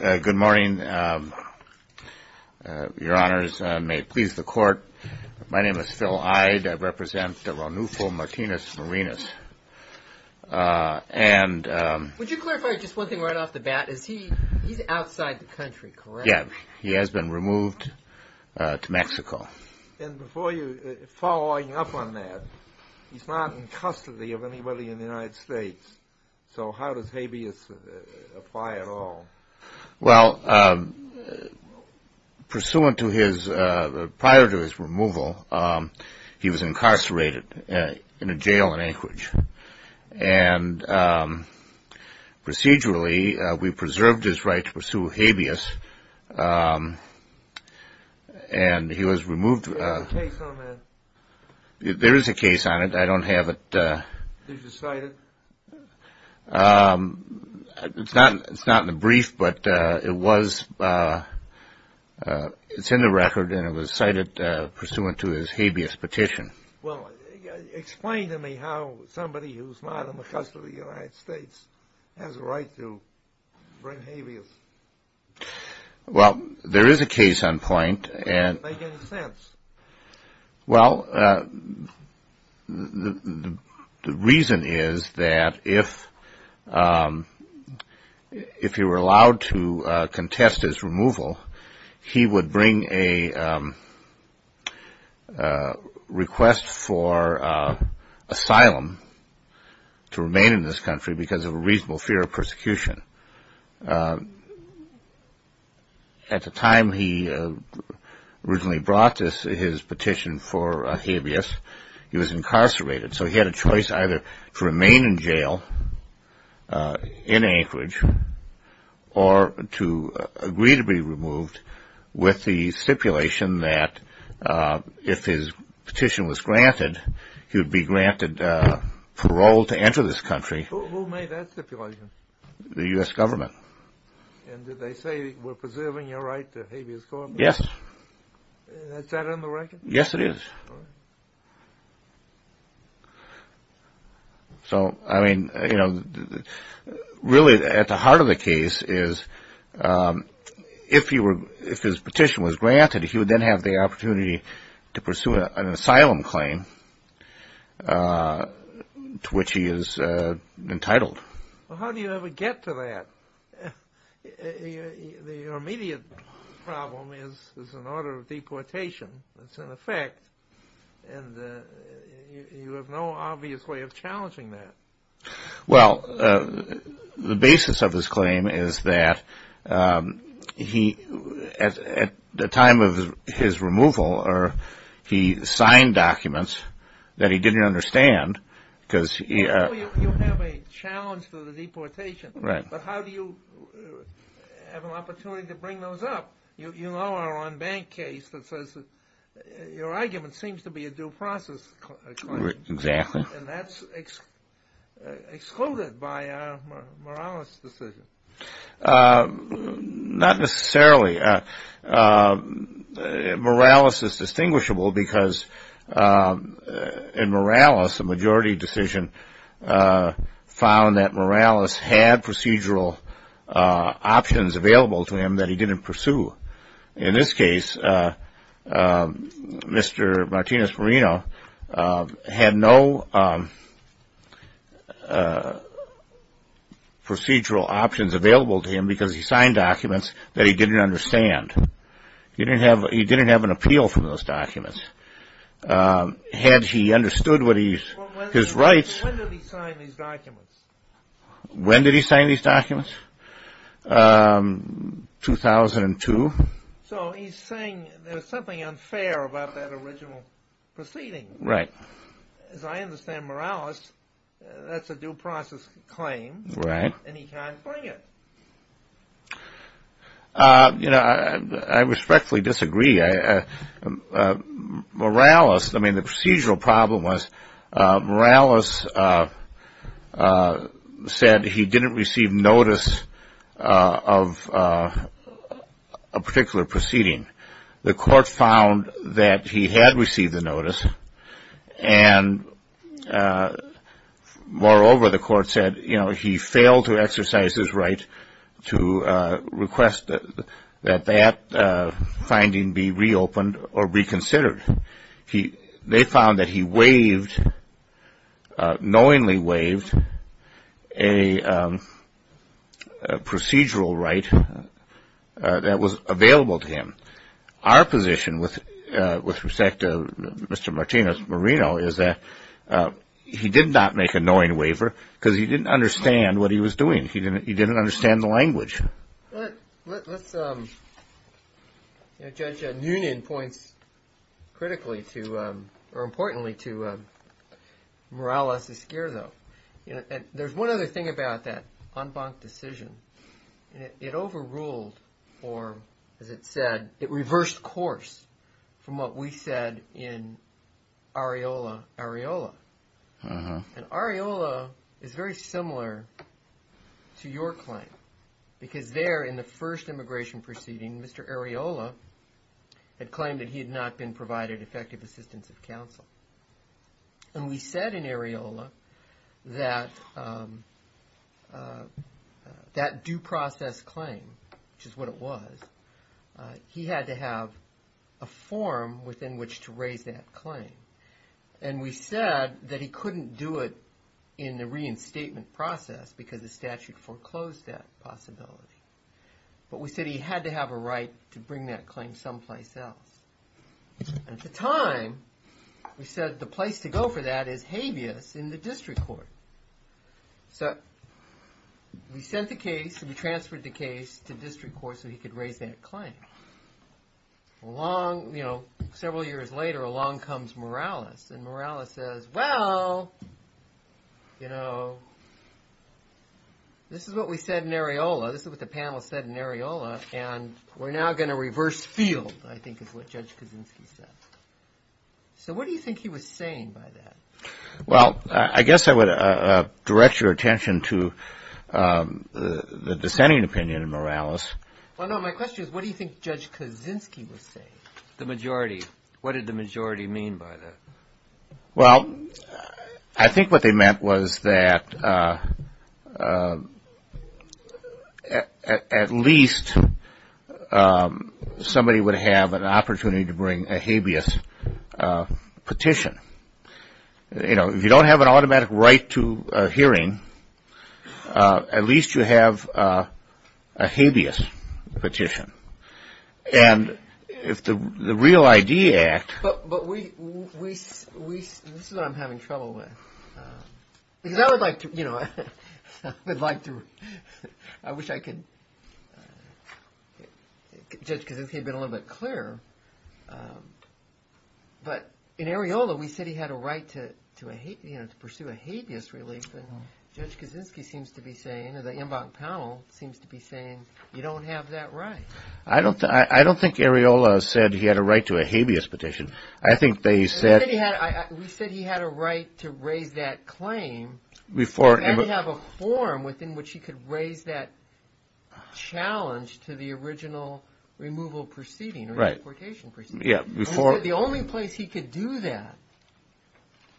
Good morning, your honors. May it please the court, my name is Phil Hyde. I represent Ronufo Martinez-Morenos. Would you clarify just one thing right off the bat? He's outside the country, correct? Yeah, he has been removed to Mexico. And before you, following up on that, he's not in custody of anybody in the United States. So how does habeas apply at all? Well, pursuant to his, prior to his removal, he was incarcerated in a jail in Anchorage. And procedurally, we preserved his right to pursue habeas, and he was removed. Is there a case on that? There is a case on it. I don't have it. Did you cite it? It's not in the brief, but it was, it's in the record, and it was cited pursuant to his habeas petition. Well, explain to me how somebody who's not in the custody of the United States has a right to bring habeas. Well, there is a case on point, and Does it make any sense? Well, the reason is that if he were allowed to contest his removal, he would bring a request for asylum to remain in this country because of a reasonable fear of persecution. At the time he originally brought his petition for habeas, he was incarcerated. So he had a choice either to remain in jail in Anchorage or to agree to be removed with the stipulation that if his petition was granted, he would be granted parole to enter this country. Who made that stipulation? The U.S. government. And did they say we're preserving your right to habeas corpus? Yes. Is that in the record? Yes, it is. All right. So, I mean, you know, really at the heart of the case is if his petition was granted, he would then have the opportunity to pursue an asylum claim to which he is entitled. How do you ever get to that? Your immediate problem is an order of deportation that's in effect, and you have no obvious way of challenging that. Well, the basis of his claim is that at the time of his removal, he signed documents that he didn't understand because You have a challenge to the deportation. Right. But how do you have an opportunity to bring those up? You know our own bank case that says your argument seems to be a due process claim. Exactly. And that's excluded by a Morales decision. Not necessarily. Morales is distinguishable because in Morales, a majority decision found that Morales had procedural options available to him that he didn't pursue. In this case, Mr. Martinez Marino had no procedural options available to him because he signed documents that he didn't understand. He didn't have an appeal from those documents. Had he understood his rights When did he sign these documents? When did he sign these documents? 2002. So he's saying there's something unfair about that original proceeding. Right. As I understand, Morales, that's a due process claim. Right. And he can't bring it. You know, I respectfully disagree. Morales, I mean the procedural problem was Morales said he didn't receive notice of a particular proceeding. The court found that he had received the notice. And moreover, the court said, you know, he failed to exercise his right to request that that finding be reopened or reconsidered. They found that he waived, knowingly waived, a procedural right that was available to him. Our position with respect to Mr. Martinez Marino is that he did not make a knowing waiver because he didn't understand what he was doing. He didn't understand the language. Judge Noonan points critically to, or importantly to, Morales Esquerdo. There's one other thing about that en banc decision. It overruled or, as it said, it reversed course from what we said in Areola, Areola. And Areola is very similar to your claim because there in the first immigration proceeding, Mr. Areola had claimed that he had not been provided effective assistance of counsel. And we said in Areola that that due process claim, which is what it was, he had to have a form within which to raise that claim. And we said that he couldn't do it in the reinstatement process because the statute foreclosed that possibility. But we said he had to have a right to bring that claim someplace else. At the time, we said the place to go for that is habeas in the district court. So we sent the case and we transferred the case to district court so he could raise that claim. Along, you know, several years later, along comes Morales. And Morales says, well, you know, this is what we said in Areola. This is what the panel said in Areola. And we're now going to reverse field, I think is what Judge Kaczynski said. So what do you think he was saying by that? Well, I guess I would direct your attention to the dissenting opinion of Morales. Well, no, my question is what do you think Judge Kaczynski was saying? The majority. What did the majority mean by that? Well, I think what they meant was that at least somebody would have an opportunity to bring a habeas petition. You know, if you don't have an automatic right to a hearing, at least you have a habeas petition. And if the Real ID Act. But this is what I'm having trouble with. Because I would like to, you know, I wish I could. Judge Kaczynski had been a little bit clearer. But in Areola, we said he had a right to pursue a habeas relief. And Judge Kaczynski seems to be saying, or the inbound panel seems to be saying, you don't have that right. I don't think Areola said he had a right to a habeas petition. I think they said. We said he had a right to raise that claim. Before. And have a forum within which he could raise that challenge to the original removal proceeding. Right. Or deportation proceeding. Yeah, before. The only place he could do that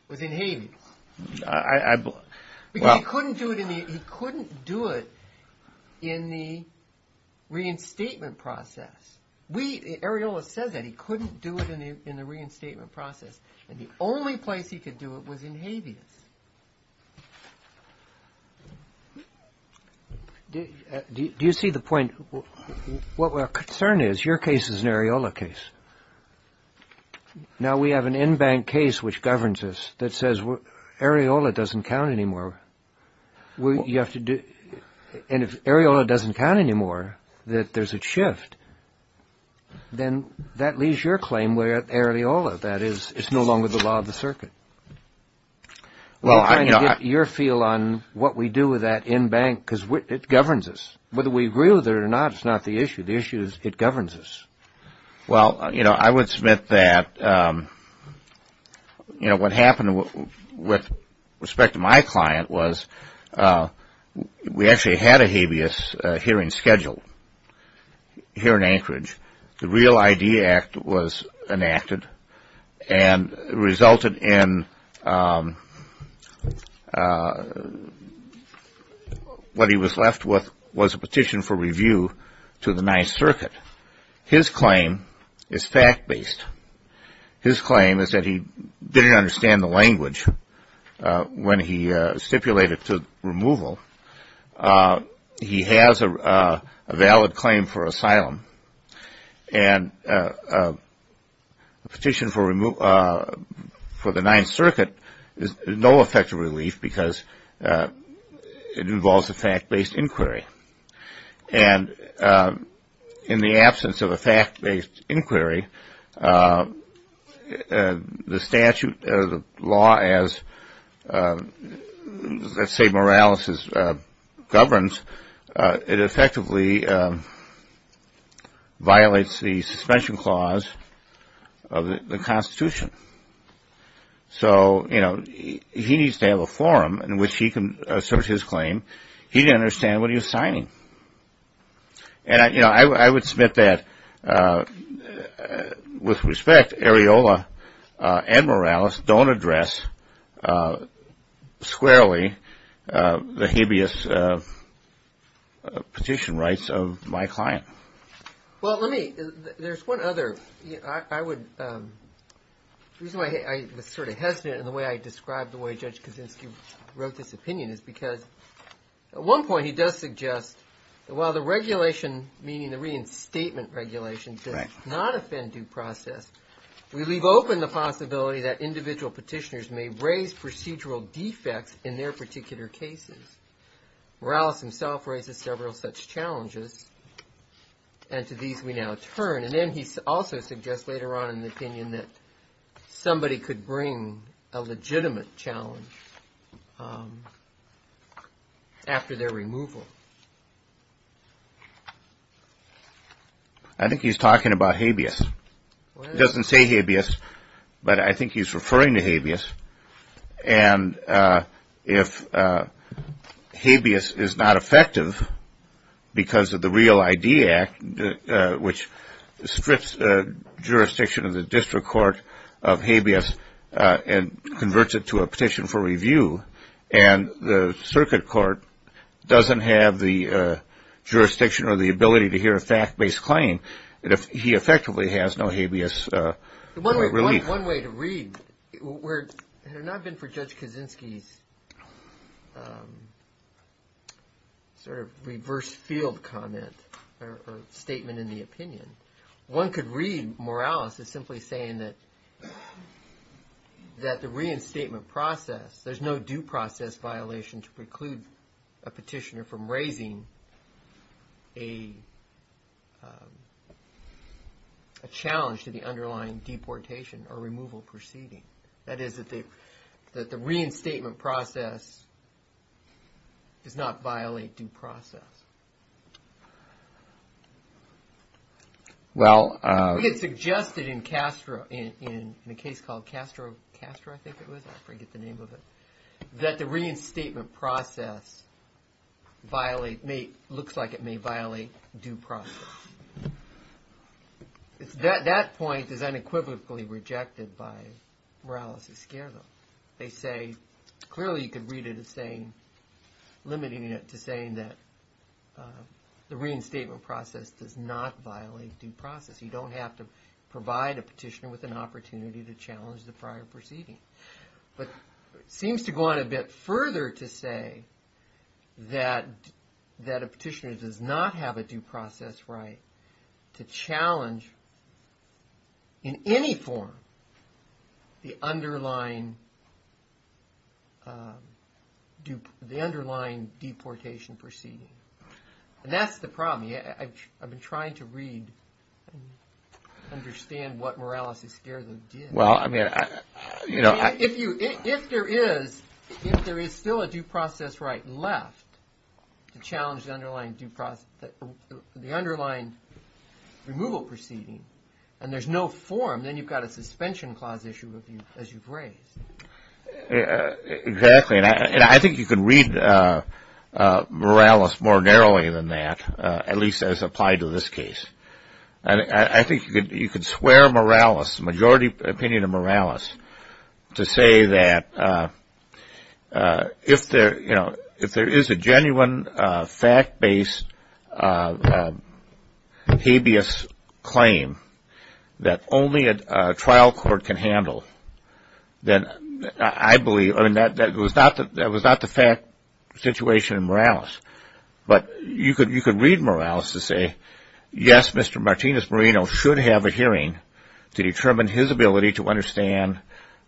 was in habeas. I couldn't do it. He couldn't do it in the reinstatement process. We Areola says that he couldn't do it in the reinstatement process. And the only place he could do it was in habeas. Do you see the point? What we're concerned is your case is an Areola case. Now, we have an in-bank case which governs us that says Areola doesn't count anymore. And if Areola doesn't count anymore, that there's a shift, then that leaves your claim where Areola, that is, it's no longer the law of the circuit. We're trying to get your feel on what we do with that in-bank because it governs us. Whether we agree with it or not, it's not the issue. The issue is it governs us. Well, you know, I would submit that, you know, what happened with respect to my client was we actually had a habeas hearing scheduled here in Anchorage. The Real ID Act was enacted and resulted in what he was left with was a petition for review to the ninth circuit. His claim is fact-based. His claim is that he didn't understand the language when he stipulated to removal. He has a valid claim for asylum. And a petition for the ninth circuit is no effective relief because it involves a fact-based inquiry. And in the absence of a fact-based inquiry, the statute or the law as, let's say, Morales governs, it effectively violates the suspension clause of the Constitution. So, you know, he needs to have a forum in which he can assert his claim. He didn't understand what he was signing. And, you know, I would submit that with respect, Areola and Morales don't address squarely the habeas petition rights of my client. Well, let me, there's one other, I would, the reason why I was sort of hesitant in the way I described the way Judge Kaczynski wrote this opinion is because at one point he does suggest that while the regulation, meaning the reinstatement regulation does not offend due process, we leave open the possibility that individual petitioners may raise procedural defects in their particular cases. Morales himself raises several such challenges, and to these we now turn. And then he also suggests later on in the opinion that somebody could bring a legitimate challenge after their removal. I think he's talking about habeas. He doesn't say habeas, but I think he's referring to habeas. And if habeas is not effective because of the Real ID Act, which strips jurisdiction of the district court of habeas and converts it to a petition for review, and the circuit court doesn't have the jurisdiction or the ability to hear a fact-based claim, he effectively has no habeas relief. One way to read, had it not been for Judge Kaczynski's sort of reverse field comment or statement in the opinion, one could read Morales as simply saying that the reinstatement process, there's no due process violation to preclude a petitioner from raising a challenge to the underlying deportation or removal proceeding. That is that the reinstatement process does not violate due process. We had suggested in Castro, in a case called Castro, Castro I think it was, I forget the name of it, that the reinstatement process looks like it may violate due process. That point is unequivocally rejected by Morales Esquerdo. They say, clearly you could read it as saying, limiting it to saying that the reinstatement process does not violate due process. You don't have to provide a petitioner with an opportunity to challenge the prior proceeding. But it seems to go on a bit further to say that a petitioner does not have a due process right to challenge in any form the underlying deportation proceeding. And that's the problem. I've been trying to read and understand what Morales Esquerdo did. Well, I mean, you know. If there is still a due process right left to challenge the underlying due process, the underlying removal proceeding, and there's no form, then you've got a suspension clause issue as you've raised. Exactly. And I think you can read Morales more narrowly than that, at least as applied to this case. I think you could swear Morales, majority opinion of Morales, to say that if there is a genuine fact-based habeas claim that only a trial court can handle, then I believe, I mean, that was not the fact situation in Morales. But you could read Morales to say, yes, Mr. Martinez Marino should have a hearing to determine his ability to understand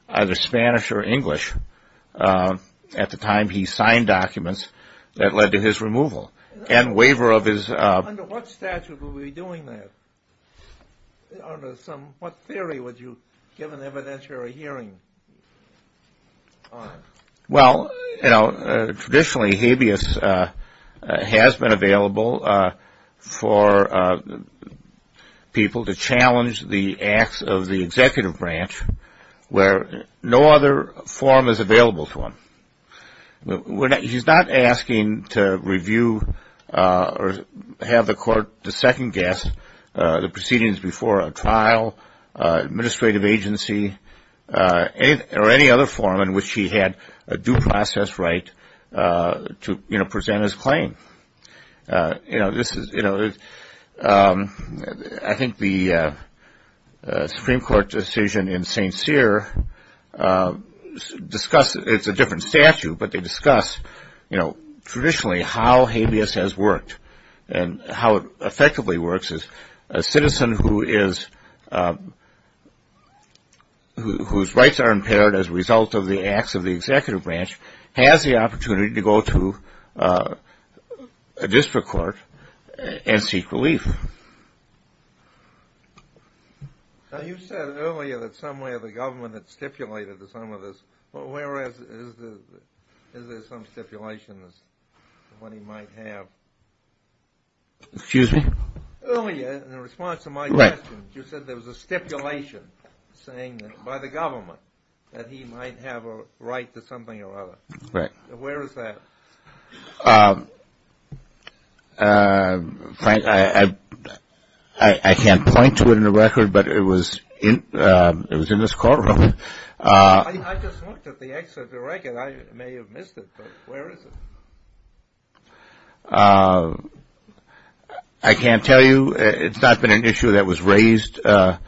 either Spanish or English at the time he signed documents that led to his removal. Under what statute would we be doing that? Under some, what theory would you give an evidentiary hearing on? Well, you know, traditionally habeas has been available for people to challenge the acts of the executive branch where no other form is available to them. He's not asking to review or have the court to second guess the proceedings before a trial, administrative agency, or any other form in which he had a due process right to present his claim. You know, this is, you know, I think the Supreme Court decision in St. Cyr discusses, it's a different statute, but they discuss, you know, traditionally how habeas has worked and how it effectively works. A citizen whose rights are impaired as a result of the acts of the executive branch has the opportunity to go to a district court and seek relief. Now you said earlier that somewhere the government had stipulated to some of this, but where is the, is there some stipulations of what he might have? Excuse me? Earlier, in response to my question, you said there was a stipulation saying that by the government that he might have a right to something or other. Right. Where is that? Frank, I can't point to it in the record, but it was in this courtroom. I just looked at the excerpt of the record. I may have missed it, but where is it? I can't tell you. It's not been an issue that was raised on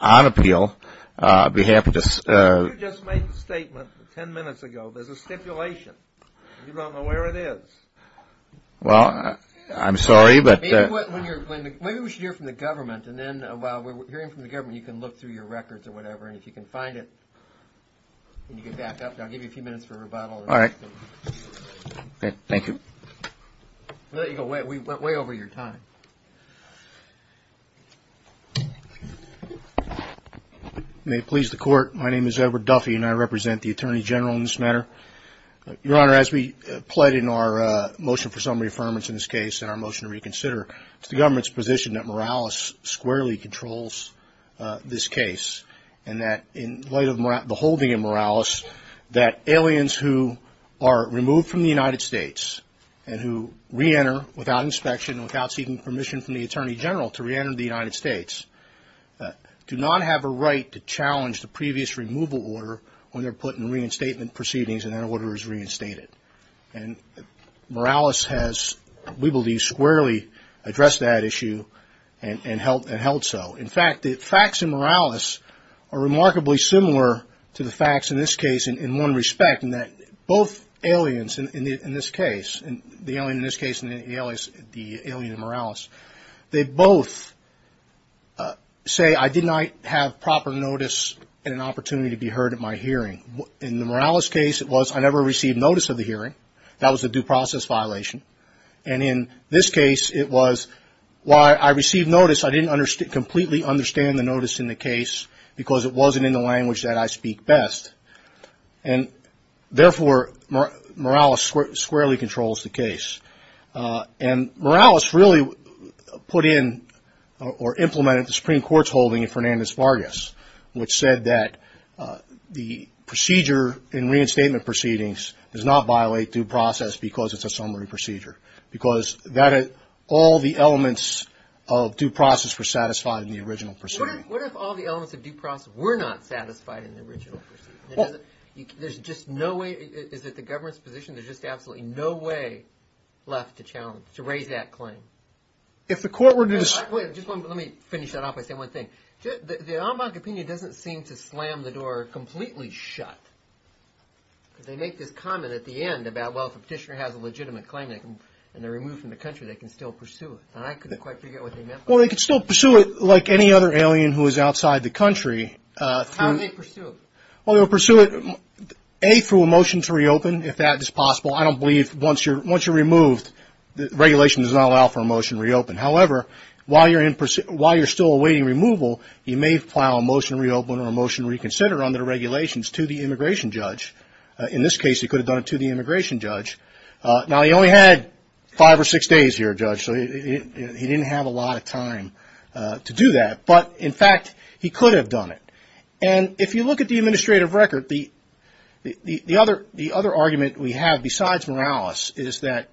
appeal. You just made the statement ten minutes ago. There's a stipulation. You don't know where it is. Well, I'm sorry, but. Maybe we should hear from the government, and then while we're hearing from the government, you can look through your records or whatever, and if you can find it, you can get back up. I'll give you a few minutes for rebuttal. All right. Thank you. We went way over your time. May it please the Court. My name is Edward Duffy, and I represent the Attorney General in this matter. Your Honor, as we pled in our motion for summary affirmance in this case and our motion to reconsider, it's the government's position that Morales squarely controls this case, and that in light of the holding of Morales, that aliens who are removed from the United States and who reenter without inspection, without seeking permission from the Attorney General to reenter the United States, do not have a right to challenge the previous removal order when they're put in reinstatement proceedings and that order is reinstated. And Morales has, we believe, squarely addressed that issue and held so. In fact, the facts in Morales are remarkably similar to the facts in this case in one respect, in that both aliens in this case, the alien in this case and the alien in Morales, they both say I did not have proper notice and an opportunity to be heard at my hearing. In the Morales case, it was I never received notice of the hearing. That was a due process violation. And in this case, it was while I received notice, I didn't completely understand the notice in the case because it wasn't in the language that I speak best. And therefore, Morales squarely controls the case. And Morales really put in or implemented the Supreme Court's holding in Fernandez-Vargas, which said that the procedure in reinstatement proceedings does not violate due process because it's a summary procedure, because all the elements of due process were satisfied in the original procedure. What if all the elements of due process were not satisfied in the original procedure? There's just no way, is it the government's position? There's just absolutely no way left to challenge, to raise that claim. If the court were to decide. Let me finish that off by saying one thing. The Ombuds opinion doesn't seem to slam the door completely shut. They make this comment at the end about, well, if a petitioner has a legitimate claim and they're removed from the country, they can still pursue it. And I couldn't quite figure out what they meant by that. Well, they can still pursue it like any other alien who is outside the country. How do they pursue it? Well, they'll pursue it, A, through a motion to reopen, if that is possible. I don't believe once you're removed, the regulation does not allow for a motion to reopen. However, while you're still awaiting removal, you may file a motion to reopen or a motion to reconsider under the regulations to the immigration judge. In this case, he could have done it to the immigration judge. Now, he only had five or six days here, Judge, so he didn't have a lot of time to do that. But, in fact, he could have done it. And if you look at the administrative record, the other argument we have besides Morales is that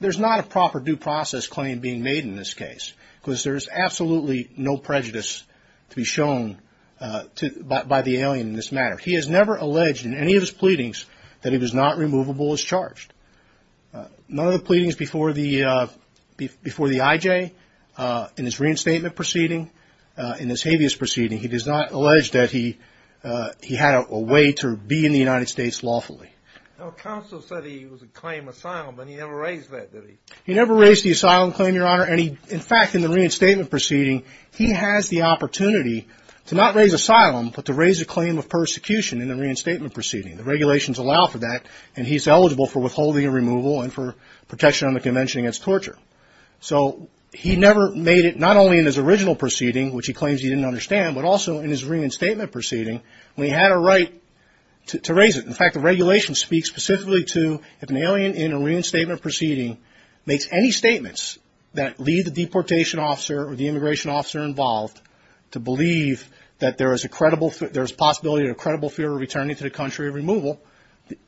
there's not a proper due process claim being made in this case, because there is absolutely no prejudice to be shown by the alien in this matter. He has never alleged in any of his pleadings that he was not removable as charged. None of the pleadings before the IJ in his reinstatement proceeding, in his habeas proceeding, he does not allege that he had a way to be in the United States lawfully. Now, counsel said he was a claim asylum, but he never raised that, did he? He never raised the asylum claim, Your Honor. And, in fact, in the reinstatement proceeding, he has the opportunity to not raise asylum, but to raise a claim of persecution in the reinstatement proceeding. The regulations allow for that, and he's eligible for withholding and removal and for protection on the convention against torture. So he never made it, not only in his original proceeding, which he claims he didn't understand, but also in his reinstatement proceeding when he had a right to raise it. In fact, the regulation speaks specifically to if an alien in a reinstatement proceeding makes any statements that lead the deportation officer or the immigration officer involved to believe that there is a credible, there is a possibility of a credible fear of returning to the country of removal,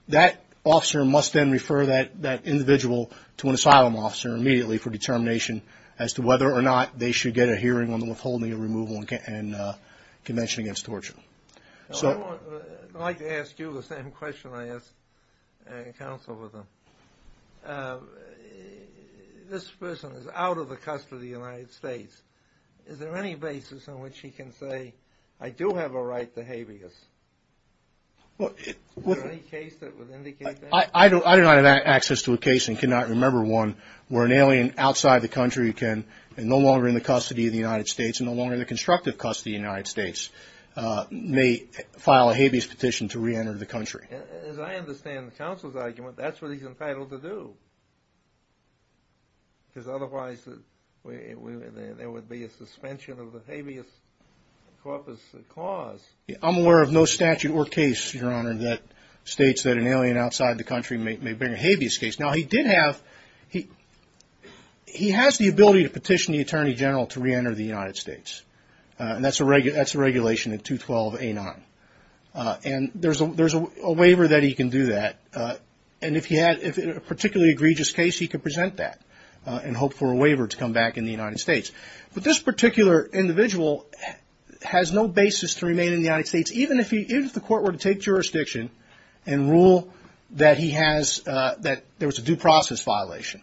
that officer must then refer that individual to an asylum officer immediately for determination as to whether or not they should get a hearing on the withholding and removal and convention against torture. I'd like to ask you the same question I asked counsel with him. This person is out of the custody of the United States. Is there any basis on which he can say, I do have a right to habeas? Is there any case that would indicate that? I do not have access to a case and cannot remember one where an alien outside the country can, and no longer in the custody of the United States and no longer in the constructive custody of the United States, may file a habeas petition to reenter the country. As I understand the counsel's argument, that's what he's entitled to do, because otherwise there would be a suspension of the habeas corpus clause. I'm aware of no statute or case, Your Honor, that states that an alien outside the country may bring a habeas case. Now, he did have, he has the ability to petition the Attorney General to reenter the United States, and that's a regulation in 212A9. And there's a waiver that he can do that, and if he had a particularly egregious case, he could present that and hope for a waiver to come back in the United States. But this particular individual has no basis to remain in the United States, even if the court were to take jurisdiction and rule that he has, that there was a due process violation.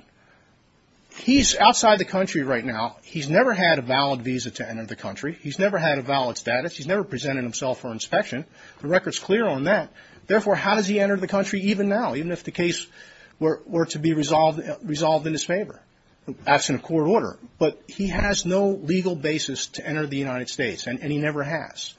He's outside the country right now. He's never had a valid visa to enter the country. He's never had a valid status. He's never presented himself for inspection. The record's clear on that. Therefore, how does he enter the country even now, even if the case were to be resolved in his favor? That's in a court order. But he has no legal basis to enter the United States, and he never has.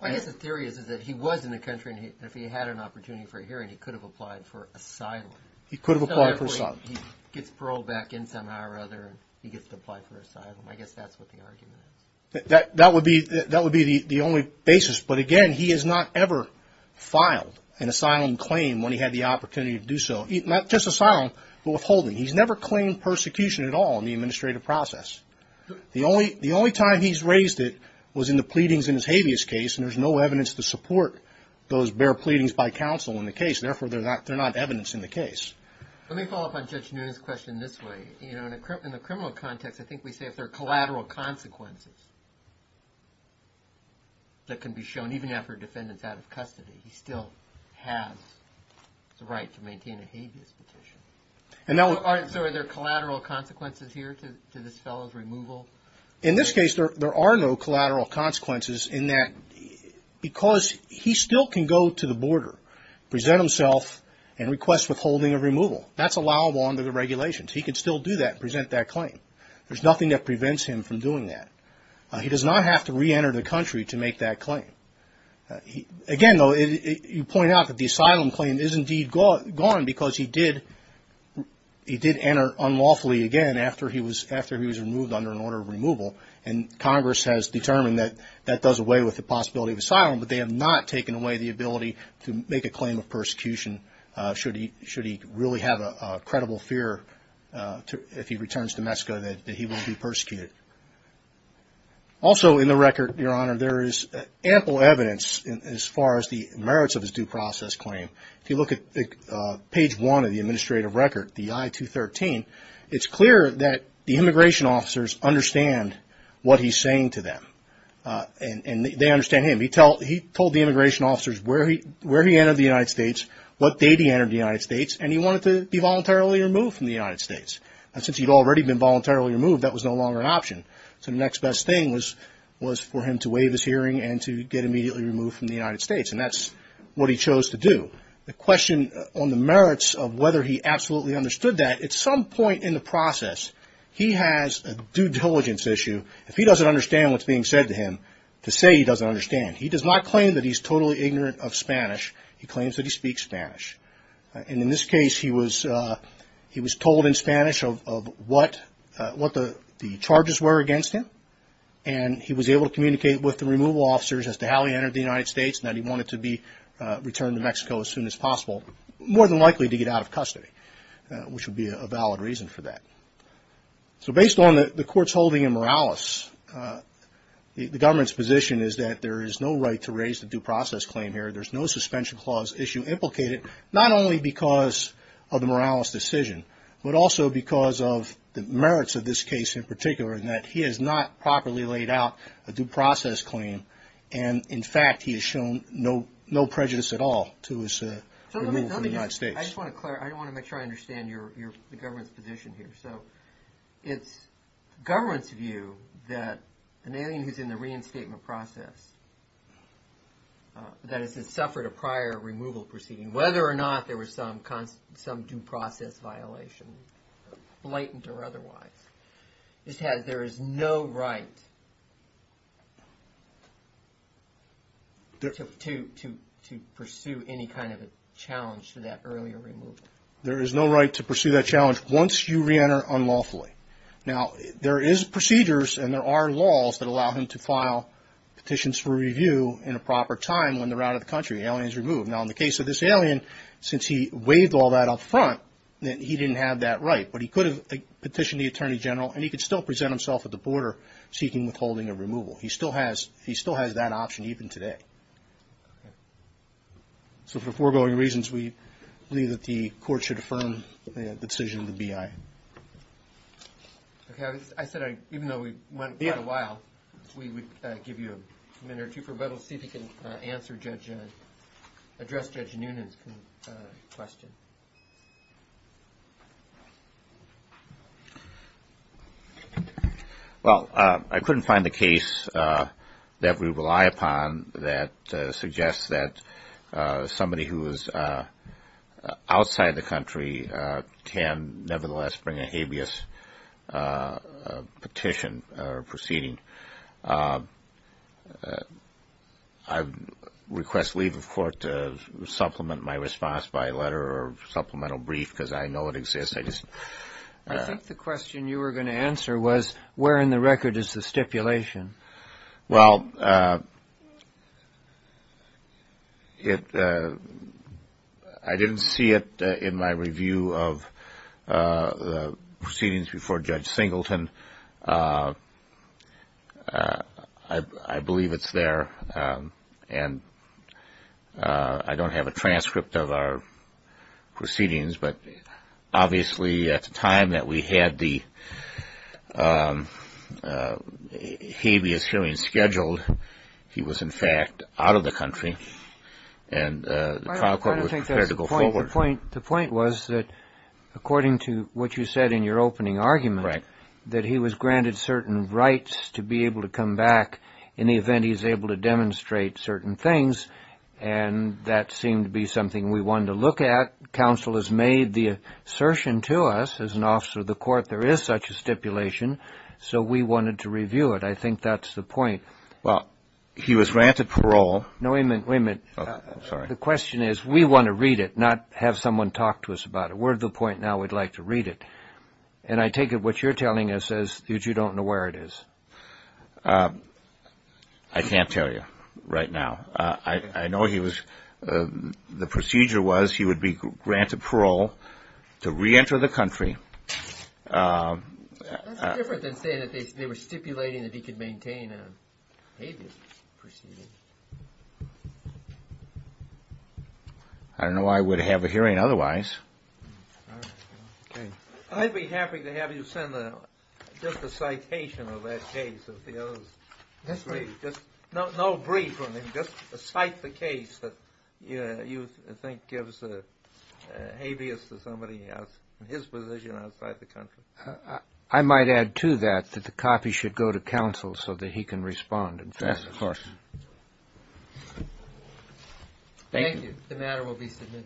I guess the theory is that he was in the country, and if he had an opportunity for a hearing, he could have applied for asylum. He could have applied for asylum. He gets paroled back in somehow or other, and he gets to apply for asylum. I guess that's what the argument is. That would be the only basis. But, again, he has not ever filed an asylum claim when he had the opportunity to do so. Not just asylum, but withholding. He's never claimed persecution at all in the administrative process. The only time he's raised it was in the pleadings in his habeas case, and there's no evidence to support those bare pleadings by counsel in the case. Therefore, they're not evidence in the case. Let me follow up on Judge Noonan's question this way. In the criminal context, I think we say if there are collateral consequences that can be shown, even after a defendant's out of custody, he still has the right to maintain a habeas petition. So are there collateral consequences here to this fellow's removal? In this case, there are no collateral consequences in that because he still can go to the border, present himself, and request withholding of removal. That's allowable under the regulations. He can still do that and present that claim. There's nothing that prevents him from doing that. He does not have to reenter the country to make that claim. Again, though, you point out that the asylum claim is indeed gone because he did enter unlawfully again after he was removed under an order of removal, and Congress has determined that that does away with the possibility of asylum, but they have not taken away the ability to make a claim of persecution should he really have a credible fear if he returns to Mexico that he will be persecuted. Also in the record, Your Honor, there is ample evidence as far as the merits of his due process claim. If you look at page one of the administrative record, the I-213, it's clear that the immigration officers understand what he's saying to them, and they understand him. He told the immigration officers where he entered the United States, what date he entered the United States, and he wanted to be voluntarily removed from the United States. And since he'd already been voluntarily removed, that was no longer an option. So the next best thing was for him to waive his hearing and to get immediately removed from the United States, and that's what he chose to do. The question on the merits of whether he absolutely understood that, at some point in the process, he has a due diligence issue. If he doesn't understand what's being said to him, to say he doesn't understand, he does not claim that he's totally ignorant of Spanish. He claims that he speaks Spanish. And in this case, he was told in Spanish of what the charges were against him, and he was able to communicate with the removal officers as to how he entered the United States and that he wanted to be returned to Mexico as soon as possible, more than likely to get out of custody, which would be a valid reason for that. So based on the court's holding in Morales, the government's position is that there is no right to raise the due process claim here. There's no suspension clause issue implicated, not only because of the Morales decision, but also because of the merits of this case in particular, in that he has not properly laid out a due process claim, and, in fact, he has shown no prejudice at all to his removal from the United States. I just want to clarify, I want to make sure I understand the government's position here. So it's government's view that an alien who's in the reinstatement process, that has suffered a prior removal proceeding, whether or not there was some due process violation, blatant or otherwise, this has, there is no right to pursue any kind of a challenge to that earlier removal. There is no right to pursue that challenge once you reenter unlawfully. Now, there is procedures and there are laws that allow him to file petitions for review in a proper time when they're out of the country, the alien's removed. Now, in the case of this alien, since he waived all that up front, he didn't have that right, but he could have petitioned the Attorney General, and he could still present himself at the border seeking withholding of removal. He still has that option even today. So for foregoing reasons, we believe that the court should affirm the decision of the BIA. Okay, I said even though we went quite a while, we would give you a minute or two for rebuttal, see if you can answer Judge, address Judge Noonan's question. Well, I couldn't find a case that we rely upon that suggests that somebody who is outside the country can nevertheless bring a habeas petition or proceeding. I request leave of court to supplement my response by a letter or supplemental brief because I know it exists. I think the question you were going to answer was where in the record is the stipulation? Well, I didn't see it in my review of the proceedings before Judge Singleton. I believe it's there, and I don't have a transcript of our proceedings, but obviously at the time that we had the habeas hearing scheduled, he was in fact out of the country, and the trial court was prepared to go forward. The point was that according to what you said in your opening argument, that he was granted certain rights to be able to come back in the event he was able to demonstrate certain things, and that seemed to be something we wanted to look at. Counsel has made the assertion to us as an officer of the court there is such a stipulation, so we wanted to review it. I think that's the point. Well, he was granted parole. No, wait a minute. I'm sorry. The question is we want to read it, not have someone talk to us about it. We're at the point now we'd like to read it, and I take it what you're telling us is that you don't know where it is. I can't tell you right now. I know he was the procedure was he would be granted parole to reenter the country. That's different than saying that they were stipulating that he could maintain a habeas proceeding. I don't know why I would have a hearing otherwise. I'd be happy to have you send just a citation of that case. No brief. Just cite the case that you think gives a habeas to somebody in his position outside the country. I might add to that that the copy should go to counsel so that he can respond. Thank you. The matter will be submitted.